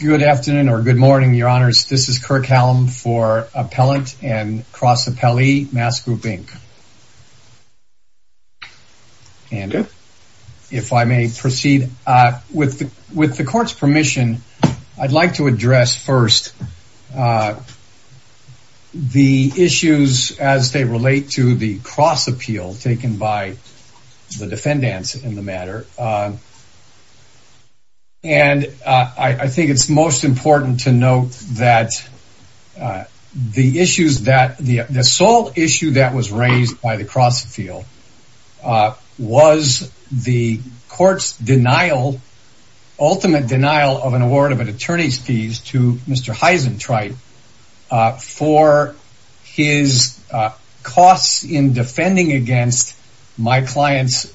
Good afternoon or good morning, Your Honors. This is Kirk Hallam for Appellant and Cross Appellee, MASS Group, Inc. If I may proceed, with the Court's permission, I'd like to address first the issues as they most important to note that the sole issue that was raised by the cross-field was the Court's ultimate denial of an award of an attorney's fees to Mr. Heisentritte for his costs in defending against my client's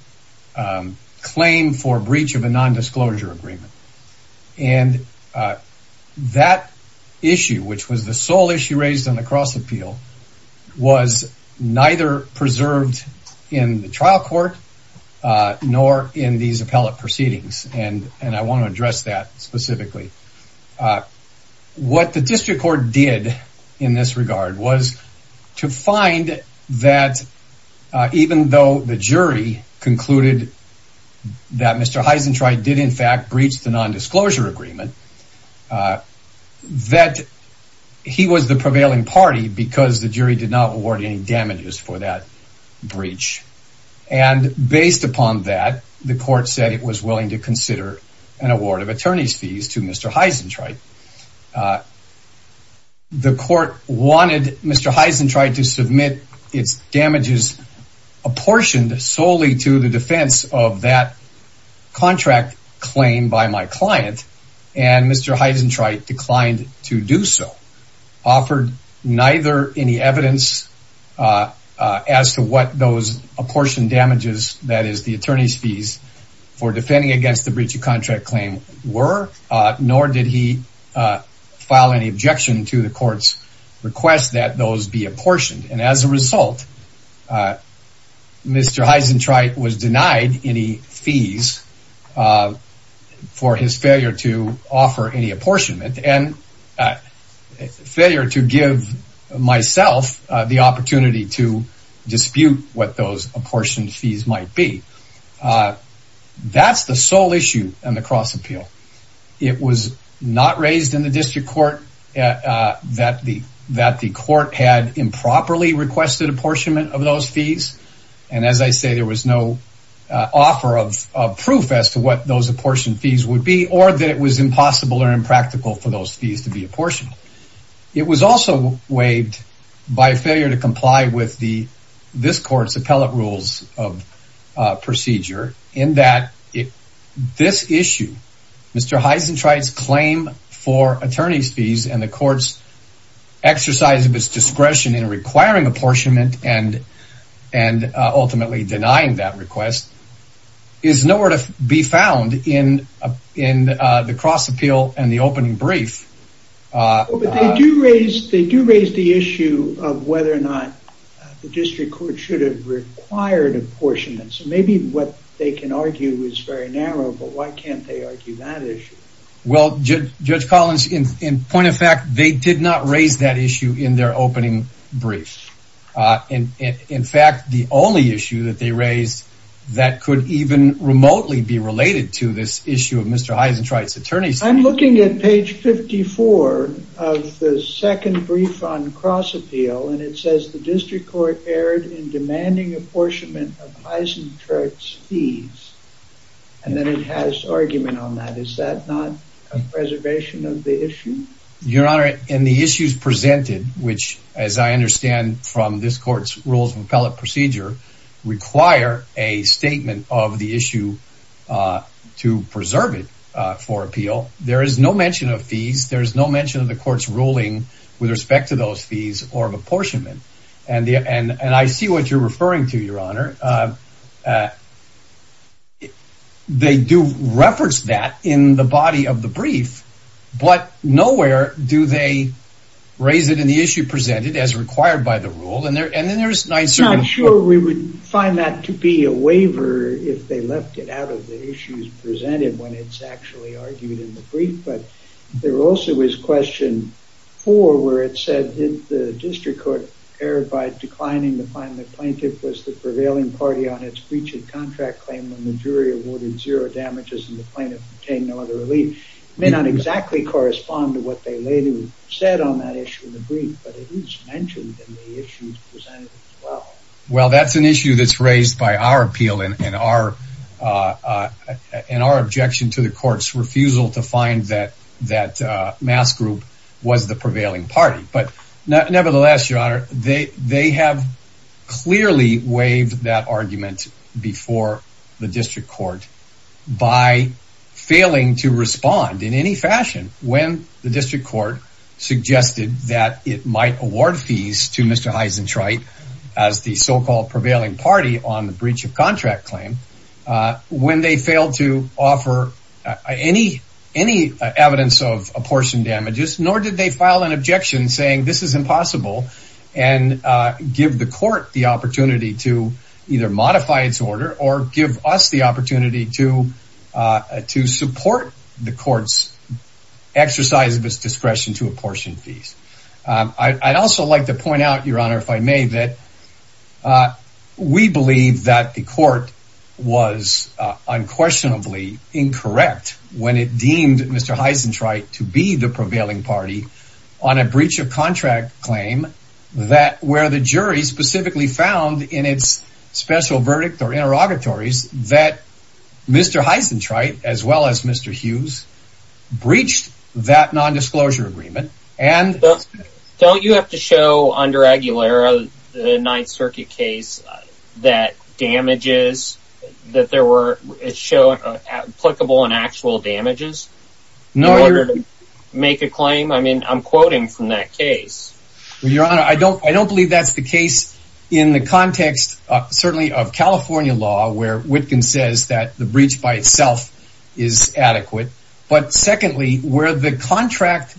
claim for breach of a nondisclosure agreement. And that issue, which was the sole issue raised on the cross-appeal, was neither preserved in the trial court nor in these appellate proceedings, and I want to address that specifically. What the district court did in this regard was to find that even though the jury concluded that Mr. Heisentritte did, in fact, breach the nondisclosure agreement, that he was the prevailing party because the jury did not award any damages for that breach. And based upon that, the court said it was willing to consider an award of attorney's fees to Mr. Heisentritte. The court wanted Mr. Heisentritte to submit its damages apportioned solely to the defense of that contract claim by my client, and Mr. Heisentritte declined to do so, offered neither any evidence as to what those apportioned damages, that is the attorney's fees, for defending against the breach of contract claim were, nor did he file any objection to the court's request that those be apportioned. And as a result, Mr. Heisentritte was denied any fees for his failure to offer any apportionment and failure to give myself the opportunity to dispute what those apportioned fees might be. That's the sole issue in the cross appeal. It was not raised in the district court that the court had improperly requested apportionment of those fees, and as I say, there was no offer of proof as to what those apportioned fees would be or that it was impossible or impractical for those fees to be apportioned. It was also waived by failure to comply with this court's appellate rules of procedure in that this issue, Mr. Heisentritte's claim for attorney's fees and the court's exercise of its in the cross appeal and the opening brief. But they do raise the issue of whether or not the district court should have required apportionment, so maybe what they can argue is very narrow, but why can't they argue that issue? Well, Judge Collins, in point of fact, they did not raise that issue in their opening brief. In fact, the only issue that they raised that could even remotely be related to this issue of Mr. Heisentritte's attorney's fees. I'm looking at page 54 of the second brief on cross appeal, and it says the district court erred in demanding apportionment of Heisentritte's fees, and then it has argument on that. Is that not a preservation of the issue? Your Honor, in the issues presented, which, as I understand from this court's rules of appellate procedure, require a statement of the issue to preserve it for appeal. There is no mention of fees. There is no mention of the court's ruling with respect to those fees or of apportionment, and I see what you're referring to, Your Honor. They do reference that in the body of the brief, but nowhere do they raise it in the issue presented as required by the rule. I'm sure we would find that to be a waiver if they left it out of the issues presented when it's actually argued in the brief, but there also is question four where it said the district court erred by declining to find the plaintiff was the prevailing party on its breach of contract claim when the jury awarded zero damages and the plaintiff obtained no other relief. It may not exactly correspond to what they later said on that issue in the brief, but it is mentioned in the issues presented as well. Well, that's an issue that's raised by our appeal and our objection to the court's refusal to find that Mass Group was the prevailing party, but nevertheless, Your Honor, they have clearly waived that argument before the district court by failing to respond in any fashion when the district court suggested that it might award fees to Mr. Heisenschreit as the so-called prevailing party on the breach of contract claim. When they failed to offer any evidence of apportioned damages, nor did they file an objection saying this is impossible and give the court the opportunity to either modify its order or give us the opportunity to support the court's exercise of its discretion to apportion fees. I'd also like to point out, Your Honor, if I may, that we believe that the court was unquestionably incorrect when it deemed Mr. Heisenschreit to be the prevailing party on a breach of contract claim where the jury specifically found in its special verdict or interrogatories that Mr. Heisenschreit, as well as Mr. Hughes, breached that nondisclosure agreement and... Don't you have to show under Aguilera the Ninth Circuit case that damages, that there were, show applicable and actual damages in order to make a claim? I mean, I'm quoting from that case. Well, Your Honor, I don't believe that's the case in the context, certainly, of California law where Witkin says that the breach by itself is adequate, but secondly, where the contract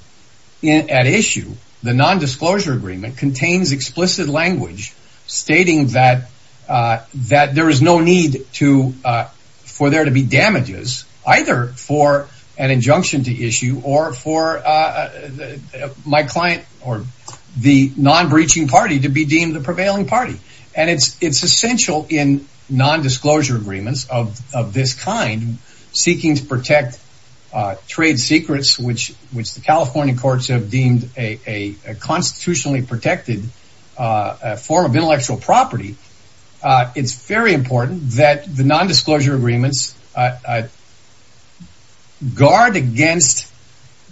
at issue, the nondisclosure agreement, contains explicit language stating that there is no need for there to be damages either for an injunction to issue or for my client or the non-breaching party to be deemed the prevailing party. And it's essential in nondisclosure agreements of this kind, seeking to protect trade secrets, which the California courts have deemed a constitutionally protected form of intellectual property. It's very important that the nondisclosure agreements guard against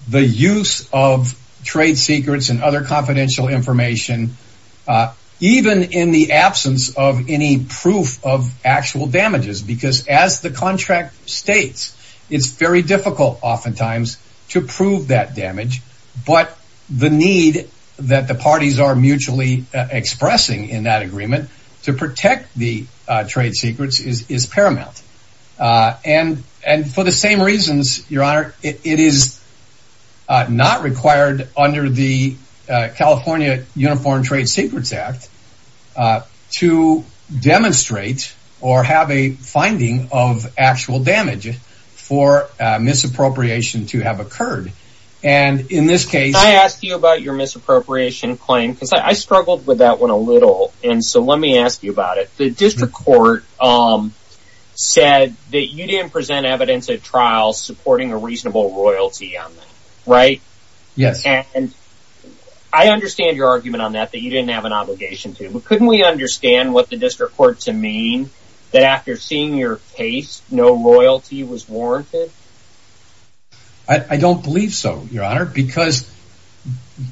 the use of trade secrets and other confidential information, even in the absence of any proof of actual damages, because as the contract states, it's very difficult oftentimes to prove that damage, but the need that the parties are mutually expressing in that agreement to protect the trade secrets is paramount. And for the same reasons, Your Honor, it is not required under the California Uniform Trade Secrets Act to demonstrate or have a finding of actual damage for misappropriation to have occurred. And in this case... Can I ask you about your misappropriation claim? Because I struggled with that one a little, and so let me ask you about it. The district court said that you didn't present evidence at trial supporting a reasonable royalty on that, right? Yes. And I understand your argument on that, that you didn't have an obligation to, but couldn't we understand what the district court to mean that after seeing your case, no royalty was warranted? I don't believe so, Your Honor, because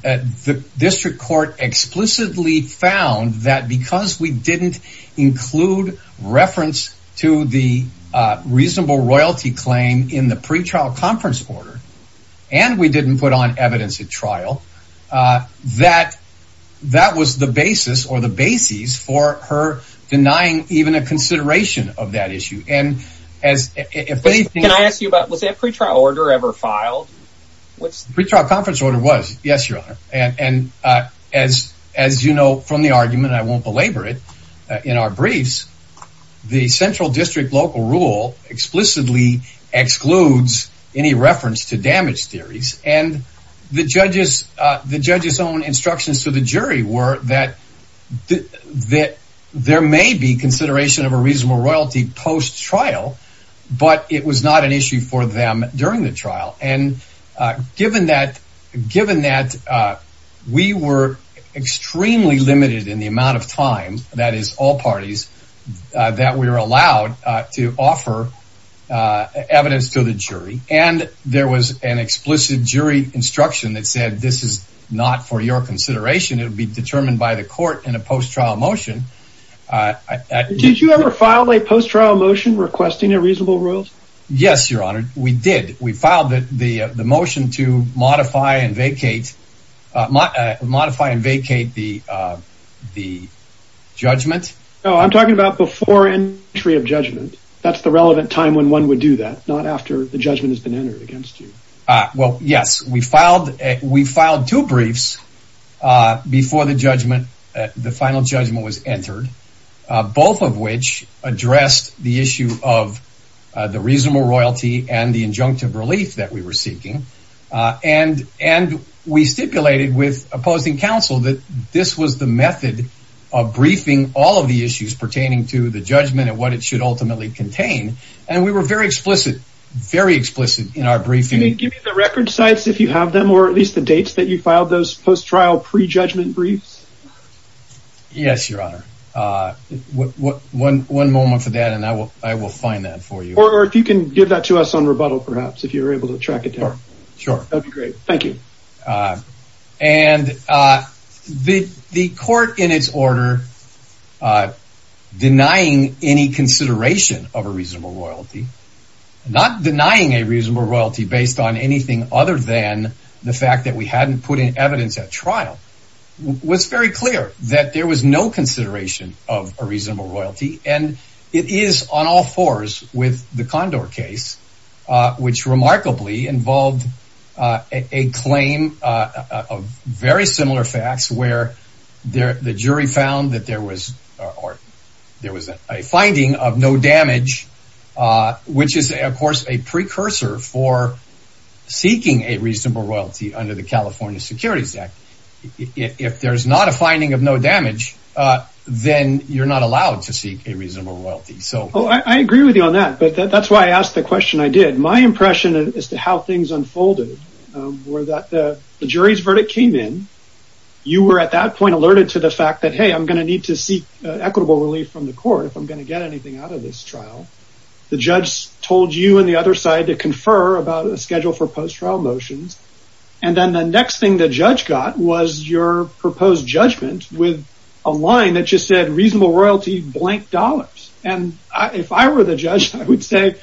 the district court explicitly found that because we didn't include reference to the reasonable royalty claim in the pretrial conference order, and we didn't put on evidence at trial, that that was the basis or the bases for her denying even a consideration of that issue. Can I ask you about, was that pretrial order ever filed? The pretrial conference order was, yes, Your Honor. And as you know from the argument, I won't belabor it, in our briefs, the central district local rule explicitly excludes any reference to damage theories, and the judge's own instructions to the jury were that there may be consideration of a reasonable royalty post-trial, but it was not an issue for them during the trial. And given that we were extremely limited in the amount of time, that is all parties, that we were allowed to offer evidence to the jury, and there was an explicit jury instruction that said, this is not for your consideration, it will be determined by the court in a post-trial motion. Did you ever file a post-trial motion requesting a reasonable royalty? Yes, Your Honor, we did. We filed the motion to modify and vacate the judgment. No, I'm talking about before entry of judgment. That's the relevant time when one would do that, not after the judgment has been entered against you. Well, yes, we filed two briefs before the final judgment was entered, both of which addressed the issue of the reasonable royalty and the injunctive relief that we were seeking. And we stipulated with opposing counsel that this was the method of briefing all of the issues pertaining to the judgment and what it should ultimately contain. And we were very explicit in our briefing. Can you give me the record sites if you have them, or at least the dates that you filed those post-trial pre-judgment briefs? Yes, Your Honor. One moment for that and I will find that for you. Or if you can give that to us on rebuttal, perhaps, if you're able to track it down. Sure. That would be great. Thank you. And the court in its order denying any consideration of a reasonable royalty, not denying a reasonable royalty based on anything other than the fact that we hadn't put in evidence at trial, was very clear that there was no consideration of a reasonable royalty. And it is on all fours with the Condor case, which remarkably involved a claim of very similar facts, where the jury found that there was a finding of no damage, which is, of course, a precursor for seeking a reasonable royalty under the California Securities Act. If there's not a finding of no damage, then you're not allowed to seek a reasonable royalty. I agree with you on that, but that's why I asked the question I did. My impression as to how things unfolded were that the jury's verdict came in. You were at that point alerted to the fact that, hey, I'm going to need to seek equitable relief from the court if I'm going to get anything out of this trial. The judge told you and the other side to confer about a schedule for post-trial motions. And then the next thing the judge got was your proposed judgment with a line that just said, reasonable royalty, blank dollars. And if I were the judge, I would say,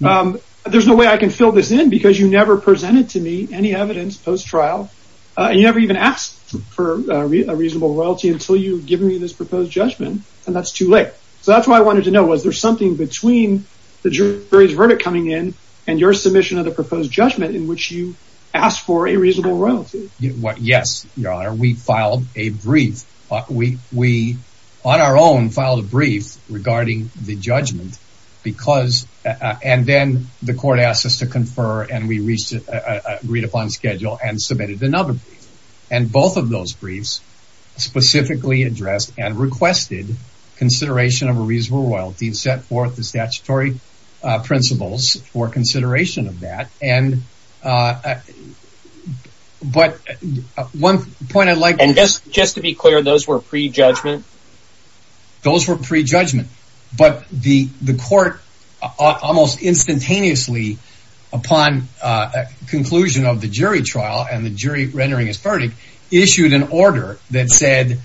there's no way I can fill this in because you never presented to me any evidence post-trial. And you never even asked for a reasonable royalty until you've given me this proposed judgment. And that's too late. So that's why I wanted to know, was there something between the jury's verdict coming in and your submission of the proposed judgment in which you asked for a reasonable royalty? Yes, Your Honor, we filed a brief. We, on our own, filed a brief regarding the judgment. And then the court asked us to confer and we reached an agreed upon schedule and submitted another brief. And both of those briefs specifically addressed and requested consideration of a reasonable royalty and set forth the statutory principles for consideration of that. But one point I'd like to make. And just to be clear, those were pre-judgment? Those were pre-judgment. But the court almost instantaneously, upon conclusion of the jury trial and the jury rendering its verdict, issued an order that said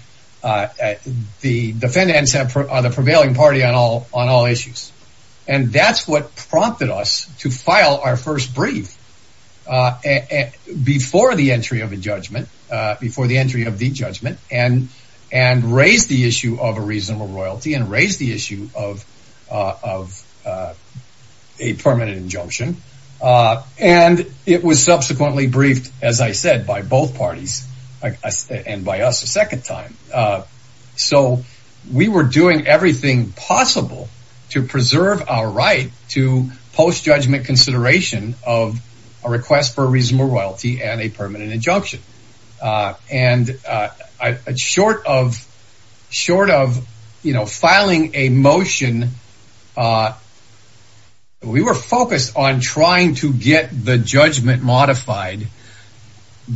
the defendants are the prevailing party on all issues. And that's what prompted us to file our first brief before the entry of a judgment, before the entry of the judgment and raise the issue of a reasonable royalty and raise the issue of a permanent injunction. And it was subsequently briefed, as I said, by both parties and by us a second time. So we were doing everything possible to preserve our right to post-judgment consideration of a request for a reasonable royalty and a permanent injunction. And short of filing a motion, we were focused on trying to get the judgment modified,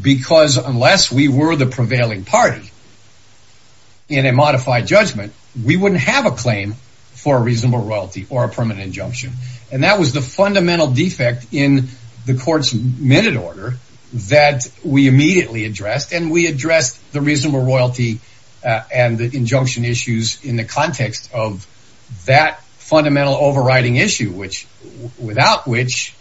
because unless we were the prevailing party in a modified judgment, we wouldn't have a claim for a reasonable royalty or a permanent injunction. And that was the fundamental defect in the court's minute order that we immediately addressed. And we addressed the reasonable royalty and the injunction issues in the context of that fundamental overriding issue, without which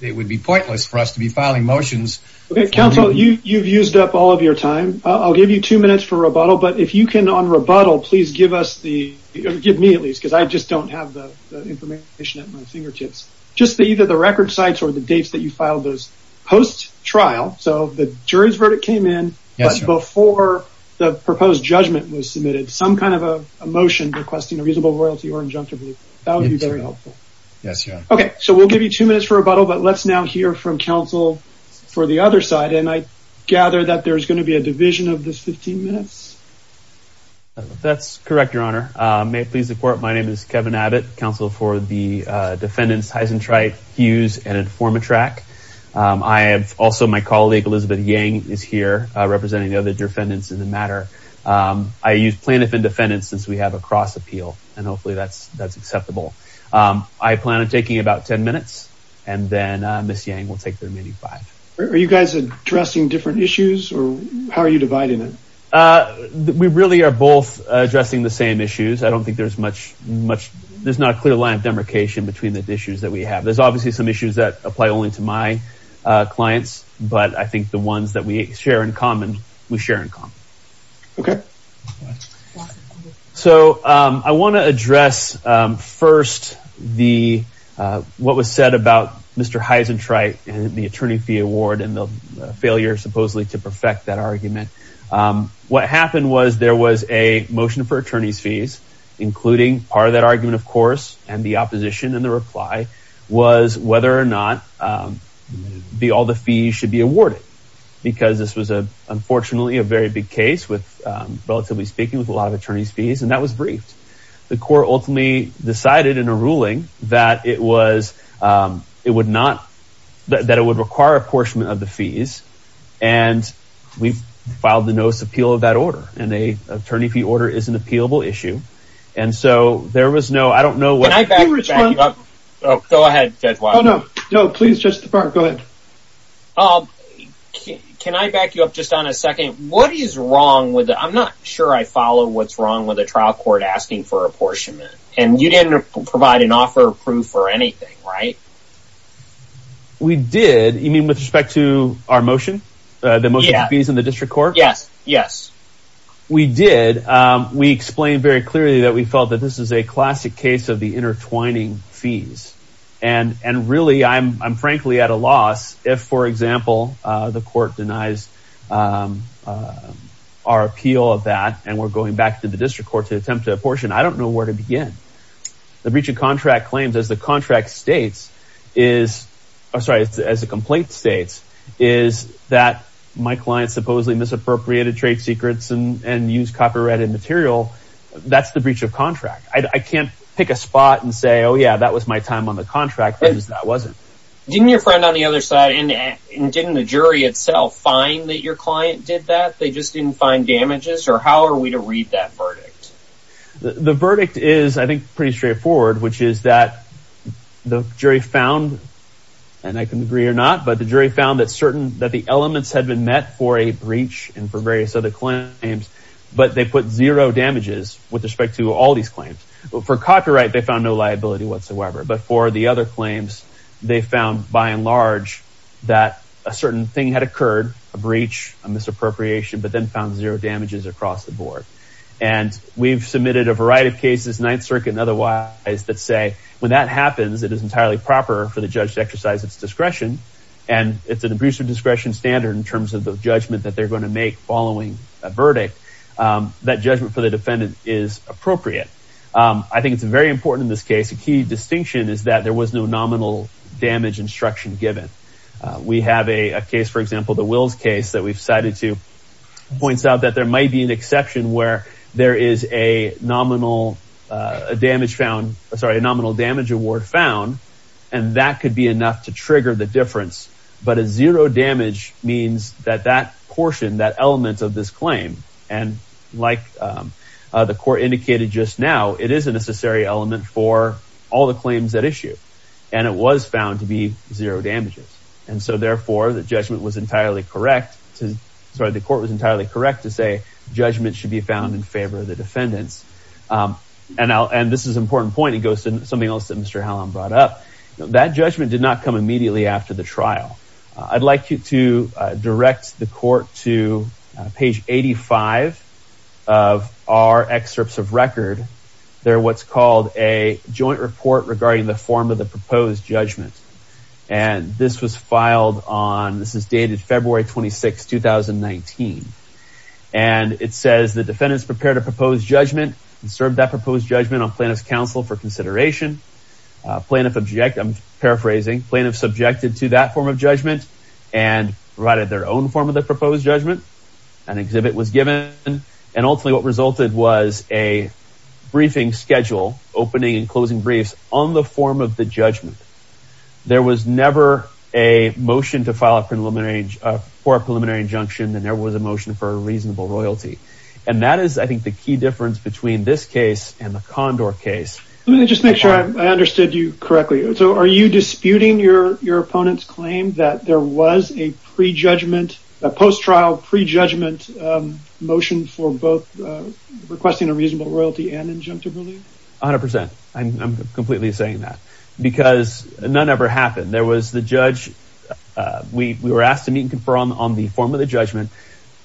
it would be pointless for us to be filing motions. Okay, counsel, you've used up all of your time. I'll give you two minutes for rebuttal. But if you can, on rebuttal, please give me at least, because I just don't have the information at my fingertips, just either the record sites or the dates that you filed those post-trial, so the jury's verdict came in before the proposed judgment was submitted, some kind of a motion requesting a reasonable royalty or injunction. That would be very helpful. Okay, so we'll give you two minutes for rebuttal. But let's now hear from counsel for the other side. And I gather that there's going to be a division of the 15 minutes? That's correct, Your Honor. May it please the court, my name is Kevin Abbott, counsel for the defendants Heisentreit, Hughes, and Informatrac. I have also my colleague Elizabeth Yang is here, representing the other defendants in the matter. I use plaintiff and defendant since we have a cross appeal, and hopefully that's acceptable. I plan on taking about 10 minutes, and then Ms. Yang will take the remaining five. Are you guys addressing different issues, or how are you dividing it? We really are both addressing the same issues. I don't think there's much, there's not a clear line of demarcation between the issues that we have. There's obviously some issues that apply only to my clients, but I think the ones that we share in common, we share in common. Okay. So I want to address first what was said about Mr. Heisentreit and the attorney fee award, and the failure supposedly to perfect that argument. What happened was there was a motion for attorney's fees, including part of that argument of course, and the opposition in the reply was whether or not all the fees should be awarded. Because this was unfortunately a very big case, relatively speaking, with a lot of attorney's fees, and that was briefed. The court ultimately decided in a ruling that it would require a portion of the fees, and we've filed the notice of appeal of that order, and an attorney fee order is an appealable issue. And so there was no, I don't know what... Can I back you up? Go ahead, Judge Watson. No, please, Judge DeParle, go ahead. Can I back you up just on a second? What is wrong with, I'm not sure I follow what's wrong with a trial court asking for apportionment, and you didn't provide an offer of proof or anything, right? We did, you mean with respect to our motion? The motion for fees in the district court? Yes, yes. We did. We explained very clearly that we felt that this is a classic case of the intertwining fees, and really I'm frankly at a loss if, for example, the court denies our appeal of that and we're going back to the district court to attempt to apportion. I don't know where to begin. The breach of contract claims, as the contract states, is... I'm sorry, as the complaint states, is that my client supposedly misappropriated trade secrets and used copyrighted material. That's the breach of contract. I can't pick a spot and say, oh yeah, that was my time on the contract, because that wasn't. Didn't your friend on the other side, and didn't the jury itself find that your client did that? They just didn't find damages? Or how are we to read that verdict? The verdict is, I think, pretty straightforward, which is that the jury found, and I can agree or not, but the jury found that certain, that the elements had been met for a breach and for various other claims, but they put zero damages with respect to all these claims. For copyright, they found no liability whatsoever, but for the other claims, they found, by and large, that a certain thing had occurred, a breach, a misappropriation, but then found zero damages across the board. And we've submitted a variety of cases, Ninth Circuit and otherwise, that say when that happens, it is entirely proper for the judge to exercise its discretion, and it's an abuser discretion standard in terms of the judgment that they're going to make following a verdict. That judgment for the defendant is appropriate. I think it's very important in this case. A key distinction is that there was no nominal damage instruction given. We have a case, for example, the Wills case that we've cited to, points out that there might be an exception where there is a nominal damage found, and that could be enough to trigger the difference, but a zero damage means that that portion, that element of this claim, and like the court indicated just now, it is a necessary element for all the claims at issue, and it was found to be zero damages. And so, therefore, the judgment was entirely correct to, sorry, the court was entirely correct to say judgment should be found in favor of the defendants. And this is an important point. It goes to something else that Mr. Hallam brought up. That judgment did not come immediately after the trial. I'd like you to direct the court to page 85 of our excerpts of record. They're what's called a joint report regarding the form of the proposed judgment, and this was filed on, this is dated February 26, 2019, and it says the defendants prepared a proposed judgment and served that proposed judgment on plaintiff's counsel for consideration. Plaintiff, I'm paraphrasing, plaintiff subjected to that form of judgment and provided their own form of the proposed judgment. An exhibit was given, and ultimately what resulted was a briefing schedule, opening and closing briefs on the form of the judgment. There was never a motion to file a preliminary, for a preliminary injunction, and there was a motion for a reasonable royalty. And that is, I think, the key difference between this case and the Condor case. Let me just make sure I understood you correctly. So are you disputing your opponent's claim that there was a prejudgment, a post-trial prejudgment motion for both requesting a reasonable royalty and injunctive relief? A hundred percent. I'm completely saying that because none ever happened. There was the judge. We were asked to meet and confer on the form of the judgment.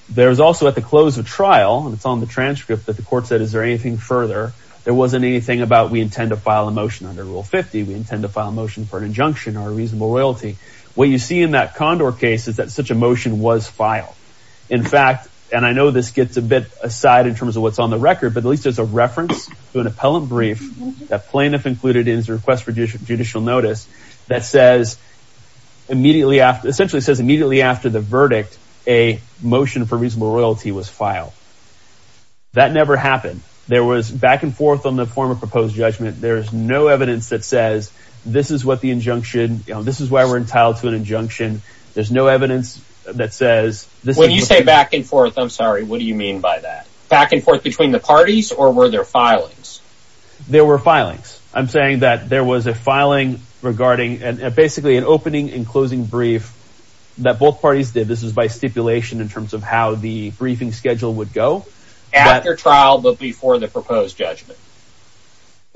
There was also at the close of trial, and it's on the transcript, that the court said, is there anything further? There wasn't anything about we intend to file a motion under Rule 50. We intend to file a motion for an injunction or a reasonable royalty. What you see in that Condor case is that such a motion was filed. In fact, and I know this gets a bit aside in terms of what's on the record, but at least there's a reference to an appellant brief that plaintiff included in his request for judicial notice that essentially says immediately after the verdict, a motion for reasonable royalty was filed. That never happened. There was back and forth on the form of proposed judgment. There is no evidence that says this is what the injunction, this is why we're entitled to an injunction. There's no evidence that says this is what the— When you say back and forth, I'm sorry, what do you mean by that? Back and forth between the parties, or were there filings? There were filings. I'm saying that there was a filing regarding basically an opening and closing brief that both parties did. This is by stipulation in terms of how the briefing schedule would go. After trial, but before the proposed judgment.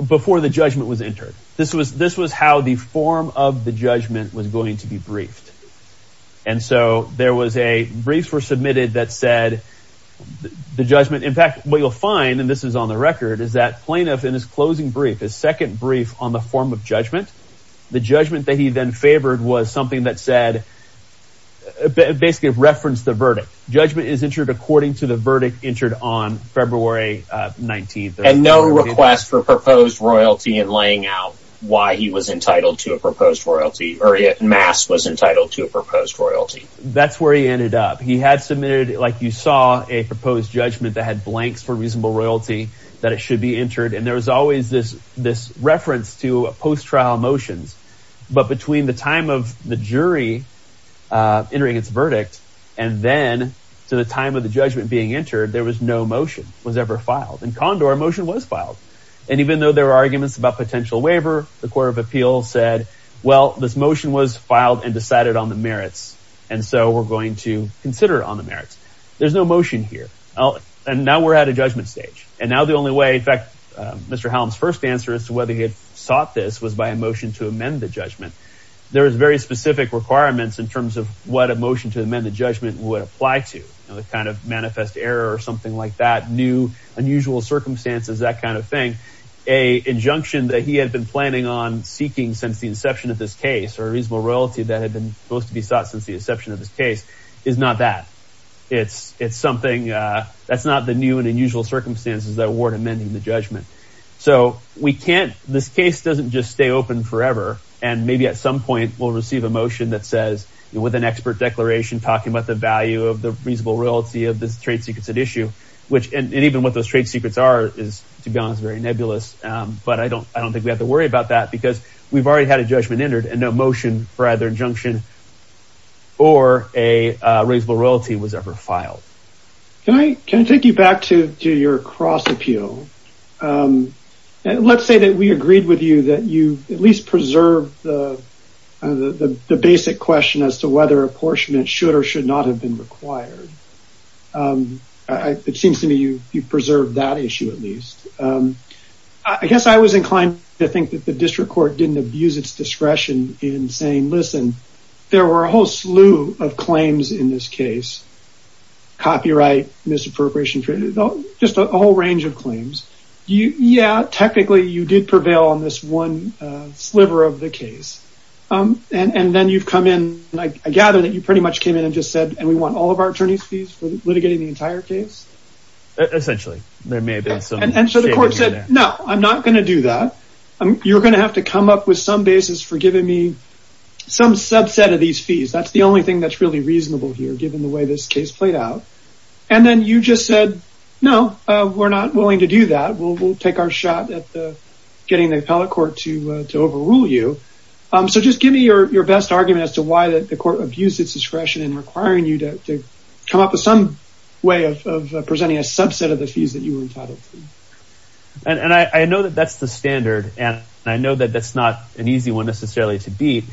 Before the judgment was entered. This was how the form of the judgment was going to be briefed. And so there was a—briefs were submitted that said the judgment— There was a second brief on the form of judgment. The judgment that he then favored was something that said—basically referenced the verdict. Judgment is entered according to the verdict entered on February 19th. And no request for proposed royalty in laying out why he was entitled to a proposed royalty, or yet Mass was entitled to a proposed royalty. That's where he ended up. He had submitted, like you saw, a proposed judgment that had blanks for reasonable royalty, that it should be entered. And there was always this reference to post-trial motions. But between the time of the jury entering its verdict and then to the time of the judgment being entered, there was no motion was ever filed. In Condor, a motion was filed. And even though there were arguments about potential waiver, the Court of Appeals said, well, this motion was filed and decided on the merits. And so we're going to consider it on the merits. There's no motion here. And now we're at a judgment stage. And now the only way—in fact, Mr. Hallam's first answer as to whether he had sought this was by a motion to amend the judgment. There was very specific requirements in terms of what a motion to amend the judgment would apply to, the kind of manifest error or something like that, new, unusual circumstances, that kind of thing. An injunction that he had been planning on seeking since the inception of this case, or a reasonable royalty that had been supposed to be sought since the inception of this case, is not that. It's something—that's not the new and unusual circumstances that warrant amending the judgment. So we can't—this case doesn't just stay open forever. And maybe at some point we'll receive a motion that says, with an expert declaration, talking about the value of the reasonable royalty of the trade secrets at issue, which—and even what those trade secrets are is, to be honest, very nebulous. But I don't think we have to worry about that because we've already had a judgment entered and no motion for either injunction or a reasonable royalty was ever filed. Can I take you back to your cross appeal? Let's say that we agreed with you that you at least preserve the basic question as to whether apportionment should or should not have been required. It seems to me you've preserved that issue at least. I guess I was inclined to think that the district court didn't abuse its discretion in saying, listen, there were a whole slew of claims in this case. Copyright, misappropriation, just a whole range of claims. Yeah, technically you did prevail on this one sliver of the case. And then you've come in—I gather that you pretty much came in and just said, and we want all of our attorneys' fees for litigating the entire case? Essentially. There may have been some— And so the court said, no, I'm not going to do that. You're going to have to come up with some basis for giving me some subset of these fees. That's the only thing that's really reasonable here, given the way this case played out. And then you just said, no, we're not willing to do that. We'll take our shot at getting the appellate court to overrule you. So just give me your best argument as to why the court abused its discretion in requiring you to come up with some way of presenting a subset of the fees that you were entitled to. And I know that that's the standard, and I know that that's not an easy one necessarily to beat.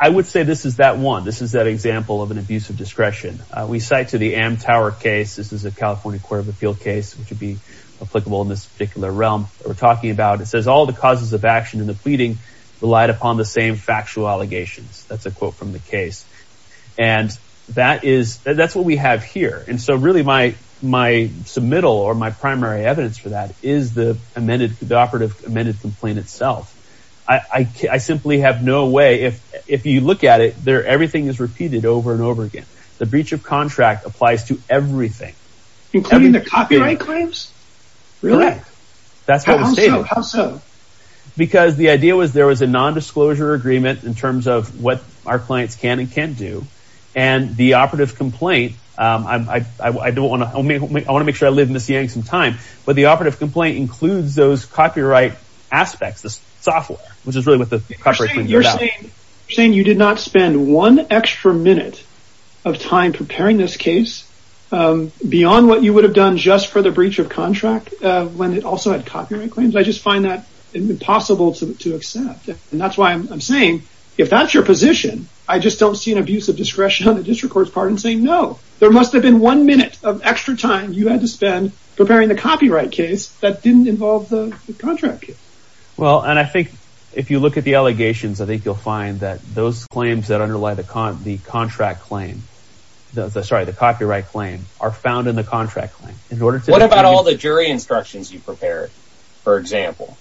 I would say this is that one. This is that example of an abuse of discretion. We cite to the Amtower case. This is a California Court of Appeal case, which would be applicable in this particular realm that we're talking about. It says all the causes of action in the pleading relied upon the same factual allegations. That's a quote from the case, and that's what we have here. And so really my submittal or my primary evidence for that is the amended complaint itself. I simply have no way, if you look at it, everything is repeated over and over again. The breach of contract applies to everything. Including the copyright claims? Really. How so? Because the idea was there was a nondisclosure agreement in terms of what our clients can and can't do. And the operative complaint, I want to make sure I live in this yank some time, but the operative complaint includes those copyright aspects, the software, which is really what the copyright claims are about. You're saying you did not spend one extra minute of time preparing this case beyond what you would have done just for the breach of contract when it also had copyright claims? I just find that impossible to accept. And that's why I'm saying if that's your position, I just don't see an abuse of discretion on the district court's part in saying no. There must have been one minute of extra time you had to spend preparing the copyright case that didn't involve the contract case. Well, and I think if you look at the allegations, I think you'll find that those claims that underlie the contract claim, sorry, the copyright claim, are found in the contract claim. What about all the jury instructions you prepared, for example?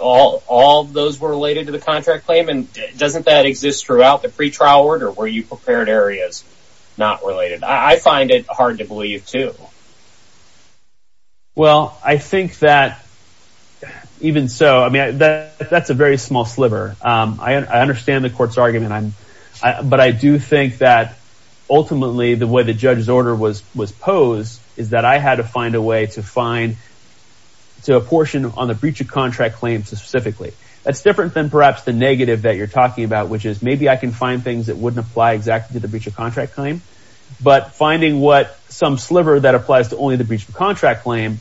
All those were related to the contract claim, and doesn't that exist throughout the pretrial order where you prepared areas not related? I find it hard to believe, too. Well, I think that even so, that's a very small sliver. I understand the court's argument, but I do think that ultimately the way the judge's order was posed is that I had to find a way to find to a portion on the breach of contract claim specifically. That's different than perhaps the negative that you're talking about, which is maybe I can find things that wouldn't apply exactly to the breach of contract claim, but finding what some sliver that applies to only the breach of contract claim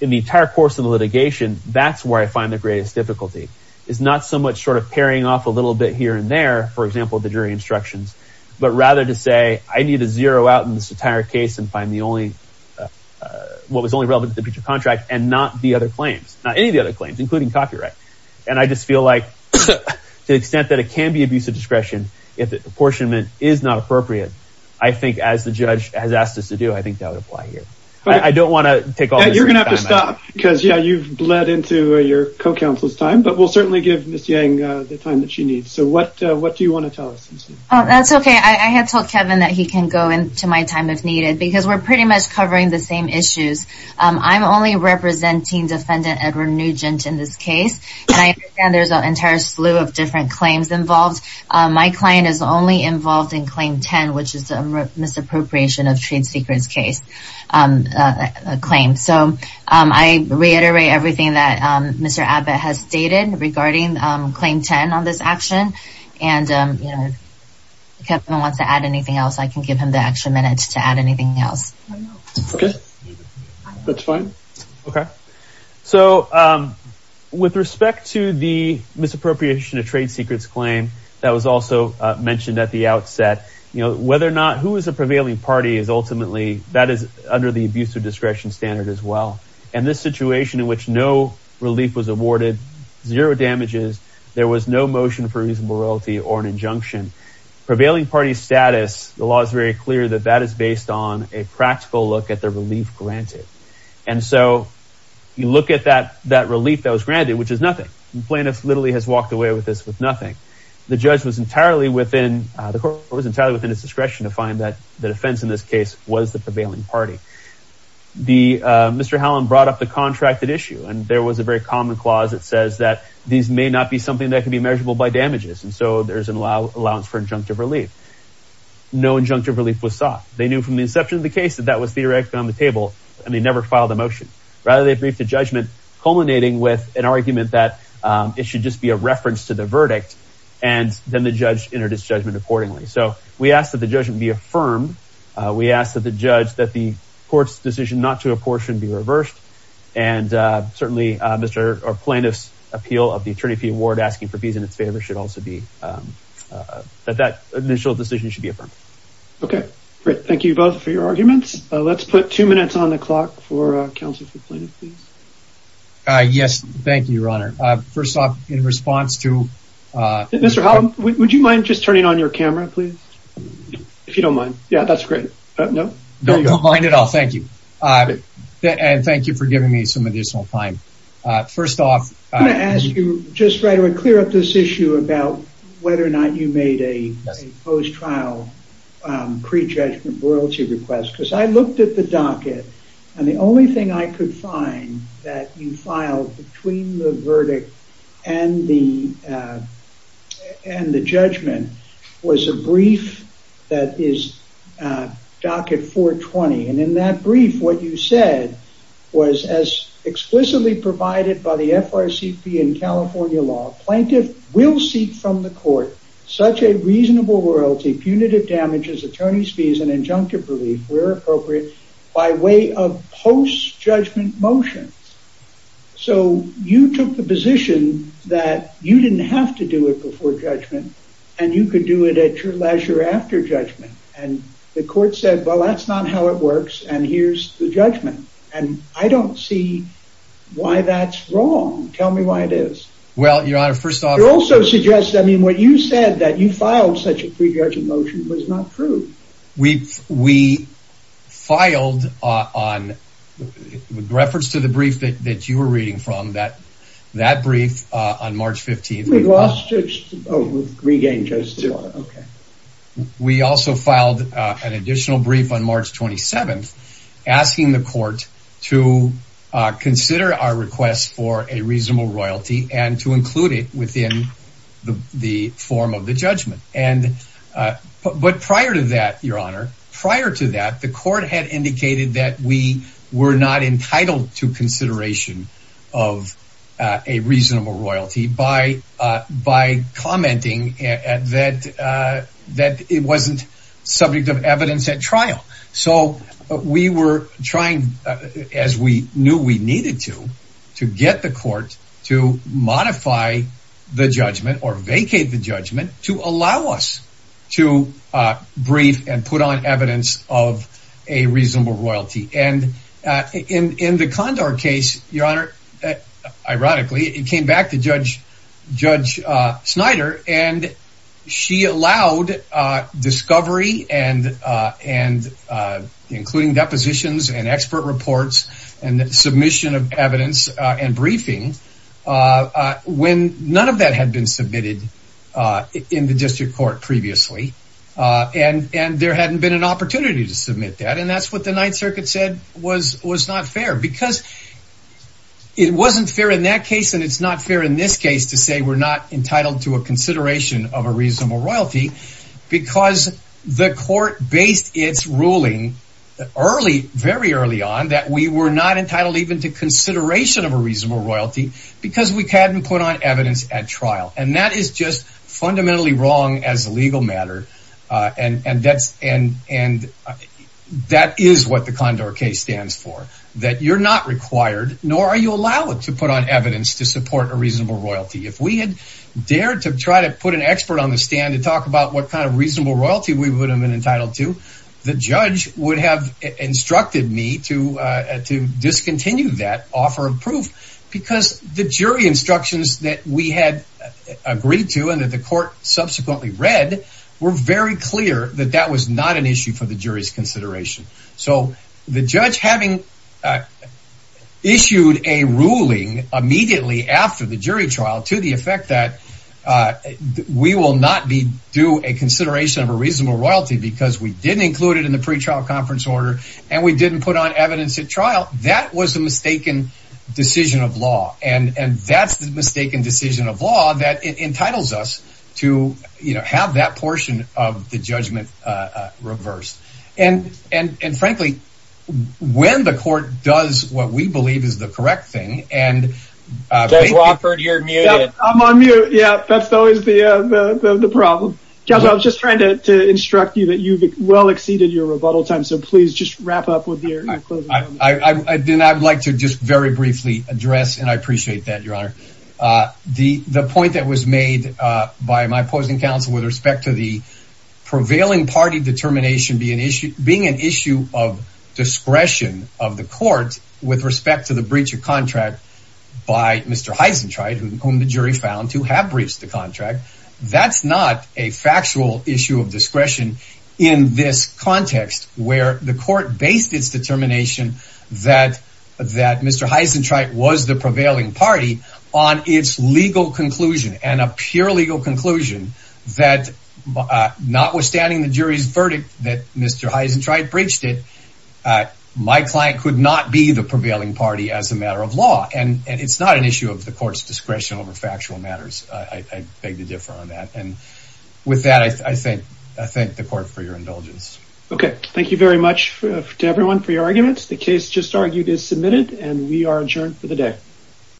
in the entire course of the litigation, that's where I find the greatest difficulty. It's not so much sort of paring off a little bit here and there, for example, the jury instructions, but rather to say I need to zero out in this entire case and find what was only relevant to the breach of contract and not the other claims, not any of the other claims, including copyright. And I just feel like to the extent that it can be abuse of discretion if the apportionment is not appropriate, I think as the judge has asked us to do, I think that would apply here. I don't want to take all this time. You're going to have to stop because, yeah, you've bled into your co-counsel's time, but we'll certainly give Ms. Yang the time that she needs. So what do you want to tell us? That's okay. I have told Kevin that he can go into my time if needed because we're pretty much covering the same issues. I'm only representing Defendant Edward Nugent in this case, and I understand there's an entire slew of different claims involved. My client is only involved in Claim 10, which is the misappropriation of trade secrets case claims. So I reiterate everything that Mr. Abbott has stated regarding Claim 10 on this action, and if Kevin wants to add anything else, I can give him the extra minute to add anything else. Okay. That's fine. Okay. So with respect to the misappropriation of trade secrets claim that was also mentioned at the outset, whether or not who is a prevailing party is ultimately under the abuse of discretion standard as well. And this situation in which no relief was awarded, zero damages, there was no motion for reasonable royalty or an injunction. Prevailing party status, the law is very clear that that is based on a practical look at the relief granted. And so you look at that relief that was granted, which is nothing. The plaintiff literally has walked away with this with nothing. The court was entirely within its discretion to find that the defense in this case was the prevailing party. Mr. Hallam brought up the contracted issue, and there was a very common clause that says that these may not be something that can be measurable by damages. And so there's an allowance for injunctive relief. No injunctive relief was sought. They knew from the inception of the case that that was theoretically on the table, and they never filed a motion. Rather, they briefed the judgment, culminating with an argument that it should just be a reference to the verdict. And then the judge introduced judgment accordingly. So we ask that the judgment be affirmed. We ask that the judge that the court's decision not to apportion be reversed. And certainly, Mr. Plaintiff's appeal of the attorney fee award asking for fees in its favor should also be that that initial decision should be affirmed. OK, great. Thank you both for your arguments. Let's put two minutes on the clock for counsel. Yes. Thank you, Your Honor. First off, in response to Mr. Hallam, would you mind just turning on your camera, please? If you don't mind. Yeah, that's great. No, no. I don't mind at all. Thank you. And thank you for giving me some additional time. First off, I'm going to ask you just right away to clear up this issue about whether or not you made a post-trial pre-judgment royalty request. Because I looked at the docket, and the only thing I could find that you filed between the verdict and the judgment was a brief that is docket 420. And in that brief, what you said was, as explicitly provided by the FRCP in California law, plaintiff will seek from the court such a reasonable royalty, punitive damages, attorney's fees, and injunctive relief, where appropriate, by way of post-judgment motion. So you took the position that you didn't have to do it before judgment, and you could do it at your leisure after judgment. And the court said, well, that's not how it works, and here's the judgment. And I don't see why that's wrong. Tell me why it is. Well, Your Honor, first off... It also suggests, I mean, what you said, that you filed such a pre-judgment motion, was not true. We filed on, with reference to the brief that you were reading from, that brief on March 15th... We lost, oh, we've regained justice. We also filed an additional brief on March 27th, asking the court to consider our request for a reasonable royalty and to include it within the form of the judgment. But prior to that, Your Honor, prior to that, the court had indicated that we were not entitled to consideration of a reasonable royalty by commenting that it wasn't subject of evidence at trial. So we were trying, as we knew we needed to, to get the court to modify the judgment or vacate the judgment to allow us to brief and put on evidence of a reasonable royalty. And in the Condor case, Your Honor, ironically, it came back to Judge Snyder, and she allowed discovery and including depositions and expert reports and submission of evidence and briefing when none of that had been submitted in the district court previously. And there hadn't been an opportunity to submit that, and that's what the Ninth Circuit said was not fair. Because it wasn't fair in that case, and it's not fair in this case to say we're not entitled to a consideration of a reasonable royalty because the court based its ruling very early on that we were not entitled even to consideration of a reasonable royalty because we hadn't put on evidence at trial. And that is just fundamentally wrong as a legal matter, and that is what the Condor case stands for, that you're not required, nor are you allowed to put on evidence to support a reasonable royalty. If we had dared to try to put an expert on the stand to talk about what kind of reasonable royalty we would have been entitled to, the judge would have instructed me to discontinue that offer of proof because the jury instructions that we had agreed to and that the court subsequently read were very clear that that was not an issue for the jury's consideration. So the judge having issued a ruling immediately after the jury trial to the effect that we will not do a consideration of a reasonable royalty because we didn't include it in the pretrial conference order and we didn't put on evidence at trial, that was a mistaken decision of law. And that's the mistaken decision of law that entitles us to have that portion of the judgment reversed. And frankly, when the court does what we believe is the correct thing, and... Judge Wofford, you're muted. I'm on mute. Yeah, that's always the problem. Judge, I was just trying to instruct you that you've well exceeded your rebuttal time, so please just wrap up with your closing comment. I would like to just very briefly address, and I appreciate that, Your Honor, the point that was made by my opposing counsel with respect to the prevailing party determination being an issue of discretion of the court with respect to the breach of contract by Mr. Heisentraut, whom the jury found to have breached the contract. That's not a factual issue of discretion in this context where the court based its determination that Mr. Heisentraut was the prevailing party on its legal conclusion and a pure legal conclusion that notwithstanding the jury's verdict that Mr. Heisentraut breached it, my client could not be the prevailing party as a matter of law. And it's not an issue of the court's discretion over factual matters. I beg to differ on that. And with that, I thank the court for your indulgence. Okay. Thank you very much to everyone for your arguments. The case just argued is submitted, and we are adjourned for the day.